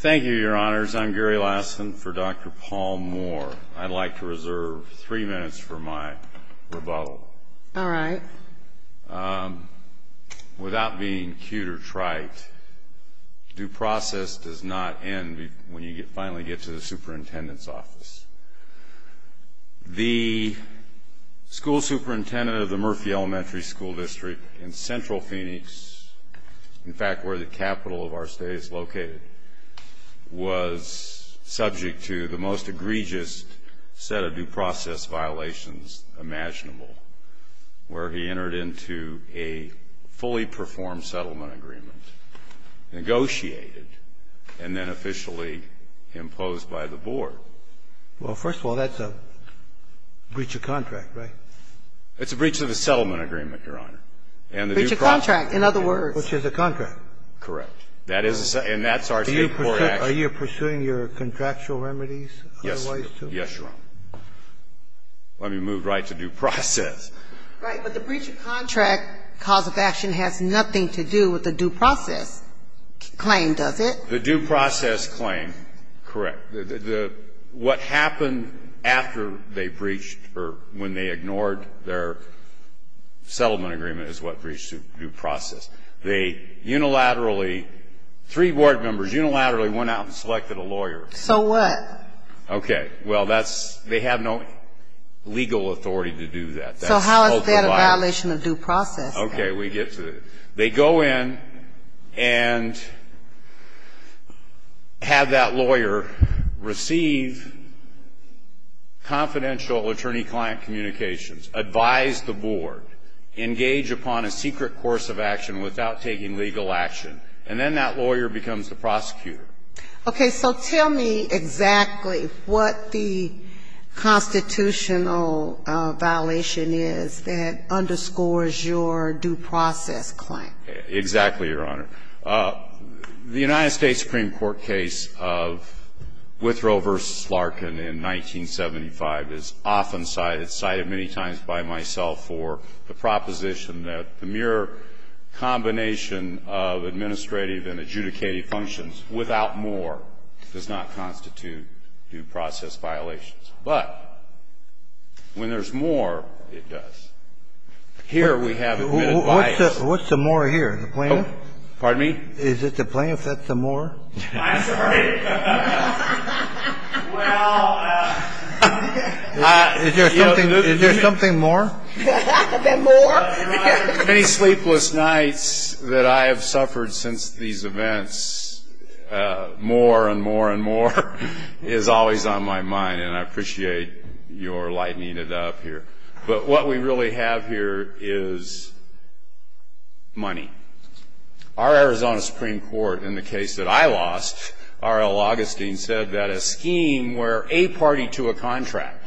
Thank you, Your Honors. I'm Gary Lassen for Dr. Paul Moore. I'd like to reserve three minutes for my rebuttal. All right. Without being cute or trite, due process does not end when you finally get to the superintendent's office. The school superintendent of the Murphy Elementary School District in Central Phoenix, in fact, where the capital of our state is located, was subject to the most egregious set of due process violations imaginable, where he entered into a fully performed settlement agreement, negotiated, and then officially imposed by the board. Well, first of all, that's a breach of contract, right? It's a breach of a settlement agreement, Your Honor. Breach of contract, in other words. Which is a contract. Correct. And that's our State court action. Are you pursuing your contractual remedies otherwise, too? Yes, Your Honor. Let me move right to due process. Right. But the breach of contract cause of action has nothing to do with the due process claim, does it? The due process claim, correct. What happened after they breached or when they ignored their settlement agreement is what breached due process. They unilaterally, three board members unilaterally went out and selected a lawyer. So what? Okay. Well, that's, they have no legal authority to do that. So how is that a violation of due process? Okay, we get to it. They go in and have that lawyer receive confidential attorney-client communications, advise the board, engage upon a secret course of action without taking legal action, and then that lawyer becomes the prosecutor. Okay. So tell me exactly what the constitutional violation is that underscores your due process claim. Exactly, Your Honor. The United States Supreme Court case of Withrow v. Larkin in 1975 is often cited, cited many times by myself, for the proposition that the mere combination of administrative and adjudicated functions without more does not constitute due process violations. But when there's more, it does. Here we have admitted bias. What's the more here, the plaintiff? Pardon me? Is it the plaintiff that's the more? I'm sorry. Well, I, you know, look at me. Is there something more? The more? Your Honor, many sleepless nights that I have suffered since these events, more and more and more is always on my mind, and I appreciate your lightening it up here. But what we really have here is money. Our Arizona Supreme Court, in the case that I lost, R.L. Augustine said that a scheme where a party to a contract.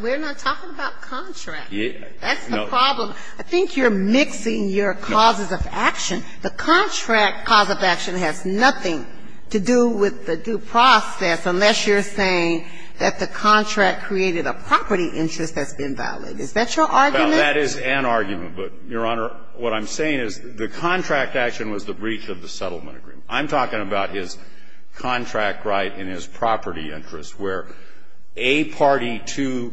We're not talking about contract. That's the problem. I think you're mixing your causes of action. The contract cause of action has nothing to do with the due process unless you're saying that the contract created a property interest that's been violated. Is that your argument? Well, that is an argument. But, Your Honor, what I'm saying is the contract action was the breach of the settlement agreement. I'm talking about his contract right and his property interest, where a party to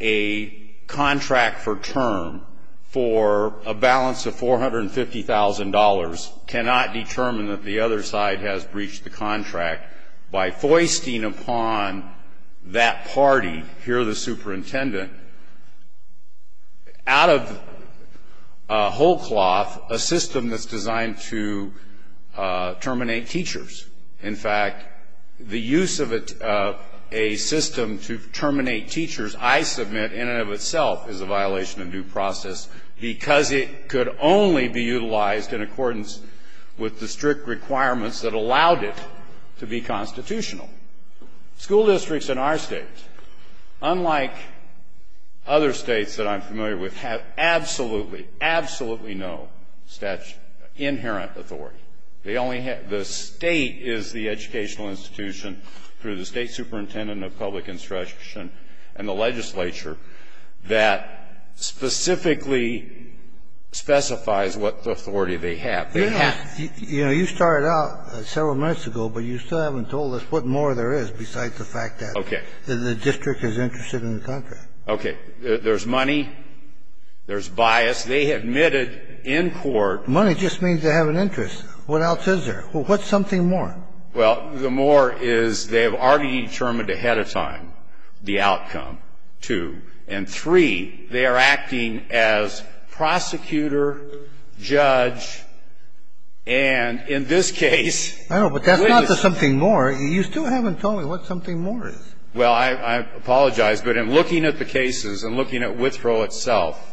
a contract for term for a balance of $450,000 cannot determine that the other side has breached the contract by foisting out of whole cloth a system that's designed to terminate teachers. In fact, the use of a system to terminate teachers, I submit, in and of itself is a violation of due process because it could only be utilized in accordance with the strict requirements that allowed it to be constitutional. School districts in our State, unlike other States that I'm familiar with, have absolutely, absolutely no inherent authority. They only have the State is the educational institution through the State superintendent of public instruction and the legislature that specifically specifies what authority they have. You know, you started out several minutes ago, but you still haven't told us what more there is besides the fact that the district is interested in the contract. Okay. There's money. There's bias. They admitted in court. Money just means they have an interest. What else is there? What's something more? Well, the more is they have already determined ahead of time the outcome, two. And three, they are acting as prosecutor, judge, and in this case, police. I know, but that's not the something more. You still haven't told me what something more is. Well, I apologize, but in looking at the cases and looking at Withrow itself,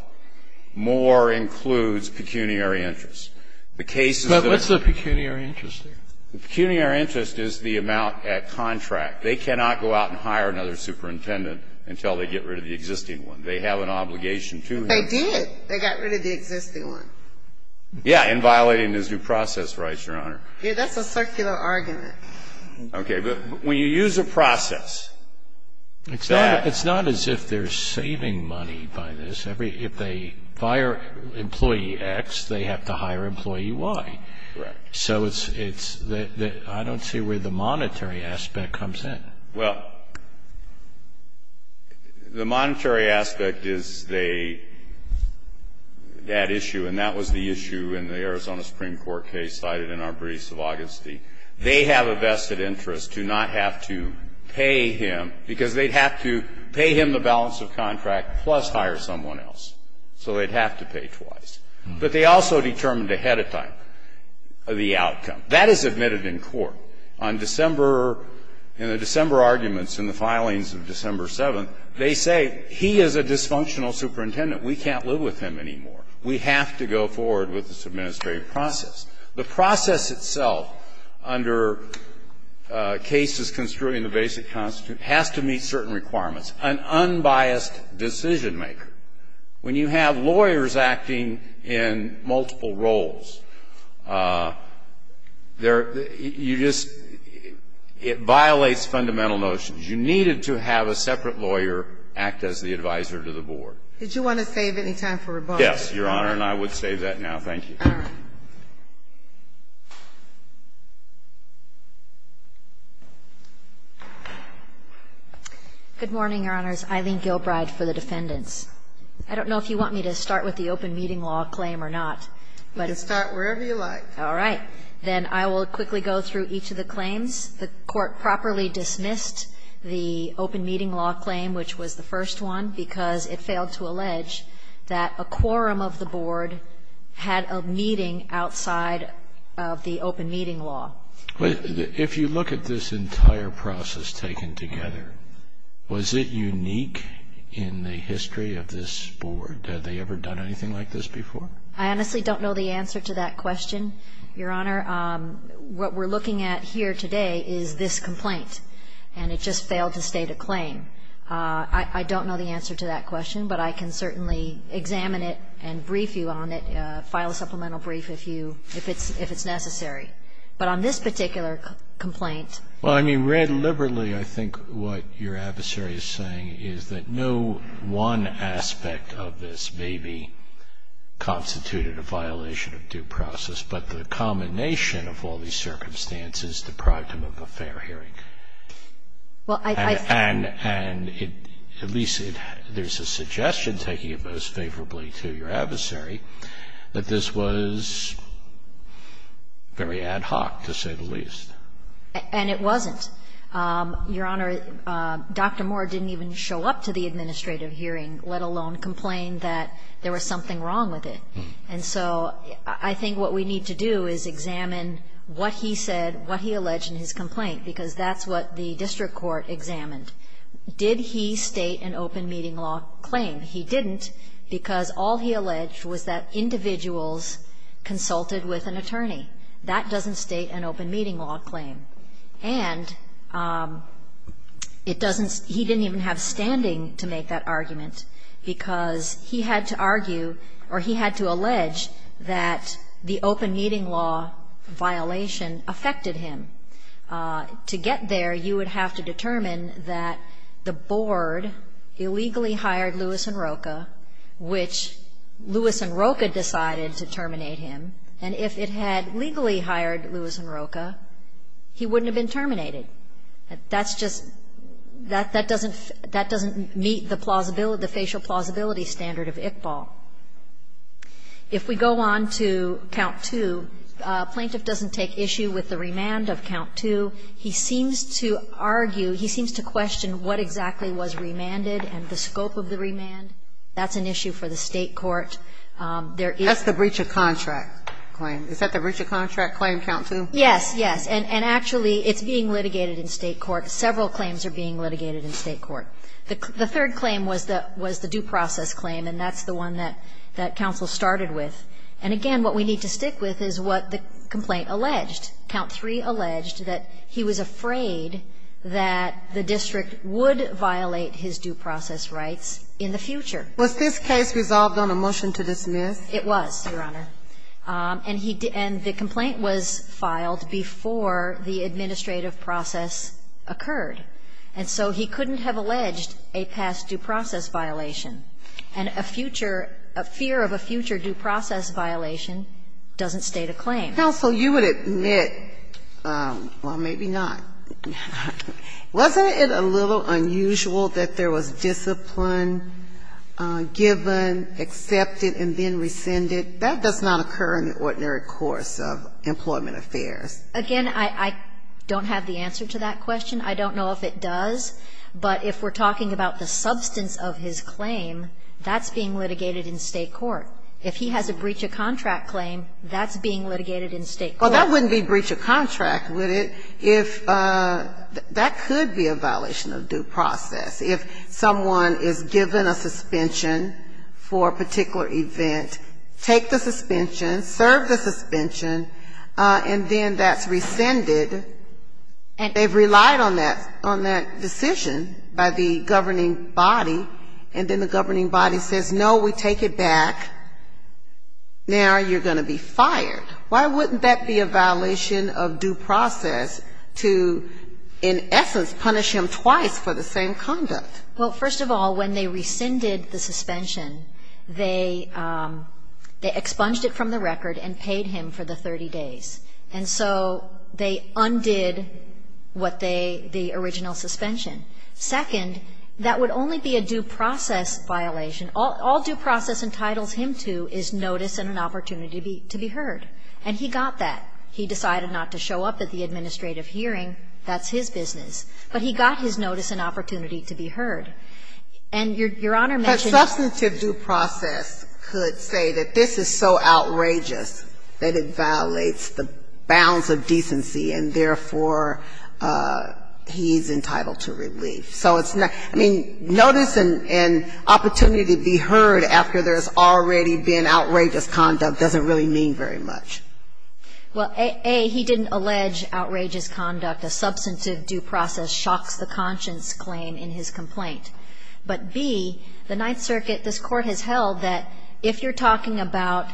more includes pecuniary interest. The cases that are going to be used in this case are pecuniary interest. But what's the pecuniary interest there? The pecuniary interest is the amount at contract. They cannot go out and hire another superintendent until they get rid of the existing one. They have an obligation to him. They did. They got rid of the existing one. Yeah, in violating his due process rights, Your Honor. Yeah, that's a circular argument. Okay. But when you use a process, it's that. It's not as if they're saving money by this. If they fire employee X, they have to hire employee Y. Correct. So it's the – I don't see where the monetary aspect comes in. Well, the monetary aspect is they – that issue, and that was the issue in the Arizona Supreme Court case cited in Arbreeze of Augustine. They have a vested interest to not have to pay him, because they'd have to pay him the balance of contract plus hire someone else. So they'd have to pay twice. But they also determined ahead of time the outcome. That is admitted in court. On December – in the December arguments in the filings of December 7th, they say he is a dysfunctional superintendent. We can't live with him anymore. We have to go forward with this administrative process. The process itself under cases construed in the Basic Constitution has to meet certain goals. There – you just – it violates fundamental notions. You needed to have a separate lawyer act as the advisor to the board. Did you want to save any time for rebuttal? Yes, Your Honor, and I would save that now. Thank you. All right. Good morning, Your Honors. Eileen Gilbride for the defendants. I don't know if you want me to start with the open meeting law claim or not, but it's my first time All right. Then I will quickly go through each of the claims. The court properly dismissed the open meeting law claim, which was the first one, because it failed to allege that a quorum of the board had a meeting outside of the open meeting law. If you look at this entire process taken together, was it unique in the history of this board? Had they ever done anything like this before? I honestly don't know the answer to that question, Your Honor. What we're looking at here today is this complaint, and it just failed to state a claim. I don't know the answer to that question, but I can certainly examine it and brief you on it, file a supplemental brief if you – if it's necessary. But on this particular complaint Well, I mean, read liberally, I think what your adversary is saying is that no one aspect of this maybe constituted a violation of due process, but the combination of all these circumstances deprived him of a fair hearing. Well, I And at least there's a suggestion, taking it most favorably to your adversary, that this was very ad hoc, to say the least. And it wasn't. Your Honor, Dr. Moore didn't even show up to the administrative hearing, let alone complain that there was something wrong with it. And so I think what we need to do is examine what he said, what he alleged in his complaint, because that's what the district court examined. Did he state an open meeting law claim? He didn't, because all he alleged was that individuals consulted with an attorney. That doesn't state an open meeting law claim. And it doesn't – he didn't even have standing to make that argument, because he had to argue – or he had to allege that the open meeting law violation affected him. To get there, you would have to determine that the board illegally hired Lewis Enroca, which Lewis Enroca decided to terminate him, and if it had legally hired Lewis Enroca, he wouldn't have been terminated. That's just – that doesn't meet the plausibility – the facial plausibility standard of Iqbal. If we go on to Count 2, plaintiff doesn't take issue with the remand of Count 2. He seems to argue – he seems to question what exactly was remanded and the scope of the remand. That's an issue for the State court. There is – Sotomayor, is that the Richard Contract Claim? Is that the Richard Contract Claim, Count 2? Yes. Yes. And actually, it's being litigated in State court. Several claims are being litigated in State court. The third claim was the due process claim, and that's the one that counsel started with. And again, what we need to stick with is what the complaint alleged. Count 3 alleged that he was afraid that the district would violate his due process rights in the future. It was, Your Honor. And he – and the complaint was filed before the administrative process occurred. And so he couldn't have alleged a past due process violation. And a future – a fear of a future due process violation doesn't state a claim. Counsel, you would admit – well, maybe not – wasn't it a little unusual that there was discipline given, accepted, and then rescinded? That does not occur in the ordinary course of employment affairs. Again, I don't have the answer to that question. I don't know if it does. But if we're talking about the substance of his claim, that's being litigated in State court. If he has a breach of contract claim, that's being litigated in State court. Well, that wouldn't be breach of contract, would it, if – that could be a violation of due process. If someone is given a suspension for a particular event, take the suspension, serve the suspension, and then that's rescinded, and they've relied on that – on that decision by the governing body, and then the governing body says, no, we take it back, now you're going to be fired. Why wouldn't that be a violation of due process to, in essence, punish him twice for the same conduct? Well, first of all, when they rescinded the suspension, they – they expunged it from the record and paid him for the 30 days. And so they undid what they – the original suspension. Second, that would only be a due process violation. All due process entitles him to is notice and an opportunity to be heard. And he got that. He decided not to show up at the administrative hearing. That's his business. But he got his notice and opportunity to be heard. And Your Honor mentioned that – But substantive due process could say that this is so outrageous that it violates the bounds of decency, and therefore, he's entitled to relief. So it's not – I mean, notice and – and opportunity to be heard after there's already been outrageous conduct doesn't really mean very much. Well, A, he didn't allege outrageous conduct. A substantive due process shocks the conscience claim in his complaint. But B, the Ninth Circuit, this Court has held that if you're talking about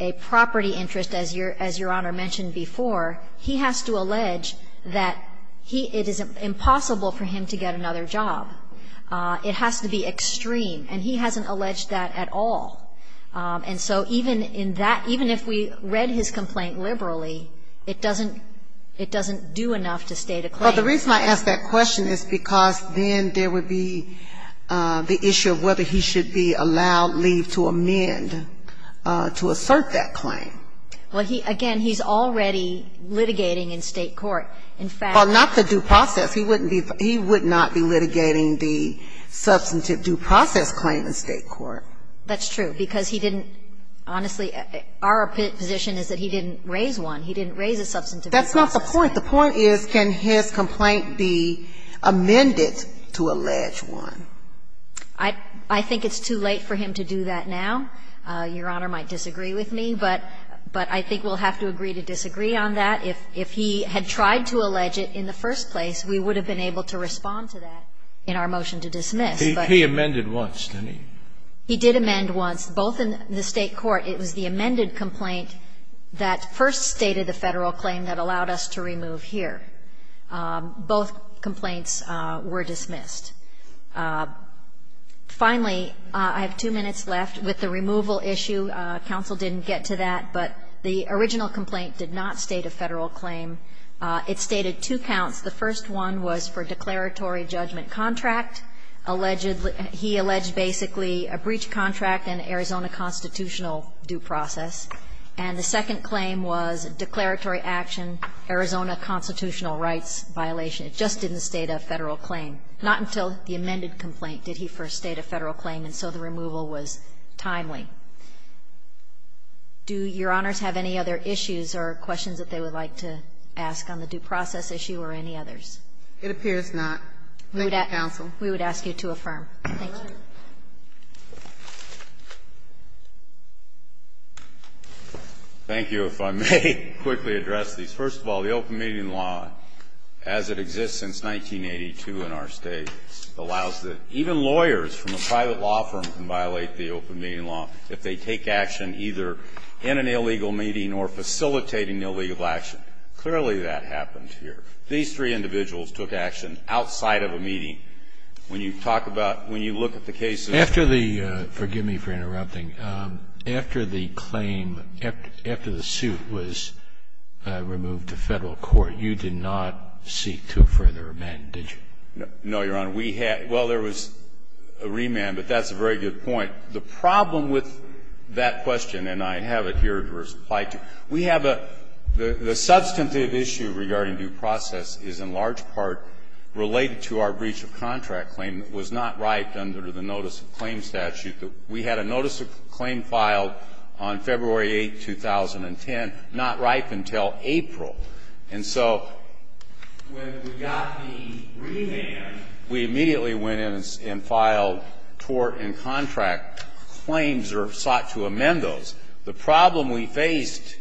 a property interest, as Your – as Your Honor mentioned before, he has to allege that he – it is impossible for him to get another job. It has to be extreme. And he hasn't alleged that at all. And so even in that – even if we read his complaint liberally, it doesn't – it doesn't do enough to state a claim. Well, the reason I ask that question is because then there would be the issue of whether he should be allowed leave to amend – to assert that claim. Well, he – again, he's already litigating in state court. In fact – Well, not the due process. He wouldn't be – he would not be litigating the substantive due process claim in state court. That's true, because he didn't – honestly, our position is that he didn't raise one. He didn't raise a substantive due process. That's not the point. The point is can his complaint be amended to allege one? I think it's too late for him to do that now. Your Honor might disagree with me, but – but I think we'll have to agree to disagree on that. If he had tried to allege it in the first place, we would have been able to respond to that in our motion to dismiss. He amended once, didn't he? He did amend once, both in the state court. It was the amended complaint that first stated the Federal claim that allowed us to remove here. Both complaints were dismissed. Finally, I have two minutes left with the removal issue. Counsel didn't get to that, but the original complaint did not state a Federal claim. It stated two counts. The first one was for declaratory judgment contract, alleged – he alleged basically a breach contract and Arizona constitutional due process. And the second claim was declaratory action, Arizona constitutional rights violation. It just didn't state a Federal claim. Not until the amended complaint did he first state a Federal claim, and so the removal was timely. Do Your Honors have any other issues or questions that they would like to ask on the due process issue or any others? It appears not. Thank you, Counsel. We would ask you to affirm. Thank you. If I may quickly address these. First of all, the open meeting law, as it exists since 1982 in our state, allows that even lawyers from a private law firm can violate the open meeting law if they take action either in an illegal meeting or facilitating illegal action. Clearly that happened here. These three When you talk about – when you look at the cases After the – forgive me for interrupting. After the claim, after the suit was removed to Federal court, you did not seek to further amend, did you? No, Your Honor. We had – well, there was a remand, but that's a very good point. The problem with that question, and I have it here to reply to, we have a – the substantive issue regarding due process is in large part related to our breach of contract claim that was not ripened under the notice of claim statute. We had a notice of claim filed on February 8, 2010, not ripened until April. And so when we got the remand, we immediately went in and filed tort and contract claims or sought to amend those. The problem we faced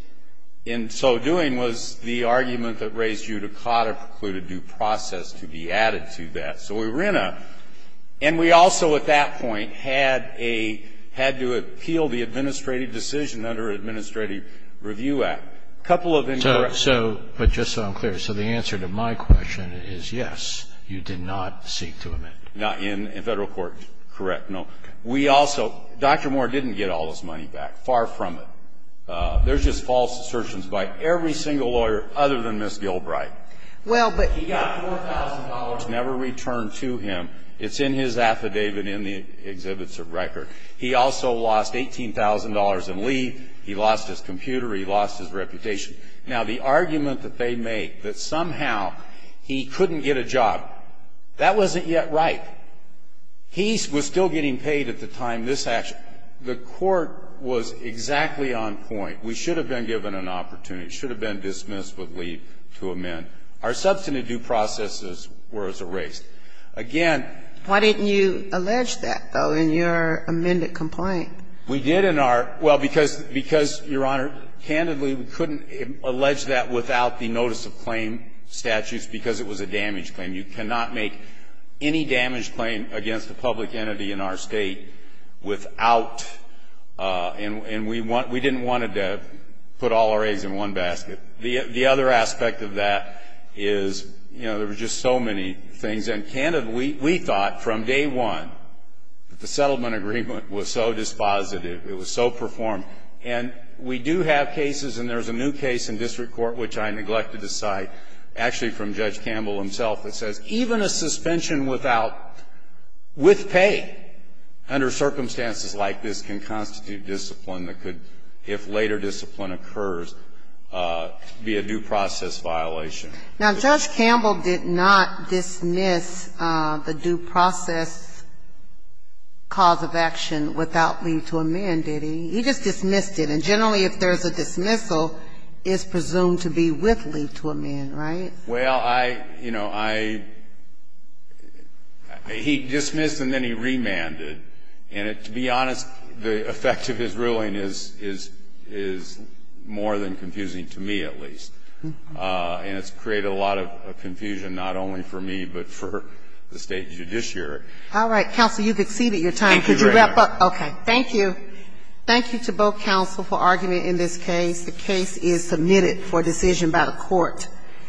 in so doing was the argument that raised judicata precluded due process to be added to that. So we were in a – and we also at that point had a – had to appeal the administrative decision under Administrative Review Act. A couple of incorrect – So – but just so I'm clear, so the answer to my question is, yes, you did not seek to amend. Not in Federal court, correct, no. We also – Dr. Moore didn't get all his money back. Far from it. There's just Gilbride. Well, but – He got $4,000, never returned to him. It's in his affidavit in the exhibits of record. He also lost $18,000 in leave. He lost his computer. He lost his reputation. Now, the argument that they make, that somehow he couldn't get a job, that wasn't yet right. He was still getting paid at the time this action – the court was exactly on point. We should have been given an opportunity. It should have been dismissed with leave to amend. Our substantive due process was erased. Again – Why didn't you allege that, though, in your amended complaint? We did in our – well, because, Your Honor, candidly, we couldn't allege that without the notice of claim statutes because it was a damage claim. You cannot make any damage claim against a public entity in our State without – and we didn't want to put all our eggs in one basket. The other aspect of that is, you know, there were just so many things. And, candidly, we thought from day one that the settlement agreement was so dispositive, it was so performed. And we do have cases, and there's a new case in district court which I neglected to cite, actually from Judge Campbell himself, that says even a suspension without – with pay under circumstances like this can constitute discipline that could if later discipline occurs be a due process violation. Now, Judge Campbell did not dismiss the due process cause of action without leave to amend, did he? He just dismissed it. And generally, if there's a dismissal, it's presumed to be with leave to amend, right? Well, I – you know, I – he dismissed and then he remanded. And to be honest, the effect of his ruling is more than confusing, to me at least. And it's created a lot of confusion not only for me but for the State Judiciary. All right. Counsel, you've exceeded your time. Could you wrap up? Thank you, Your Honor. Okay. Thank you. Thank you to both counsel for arguing in this case. The case is submitted for decision by the court.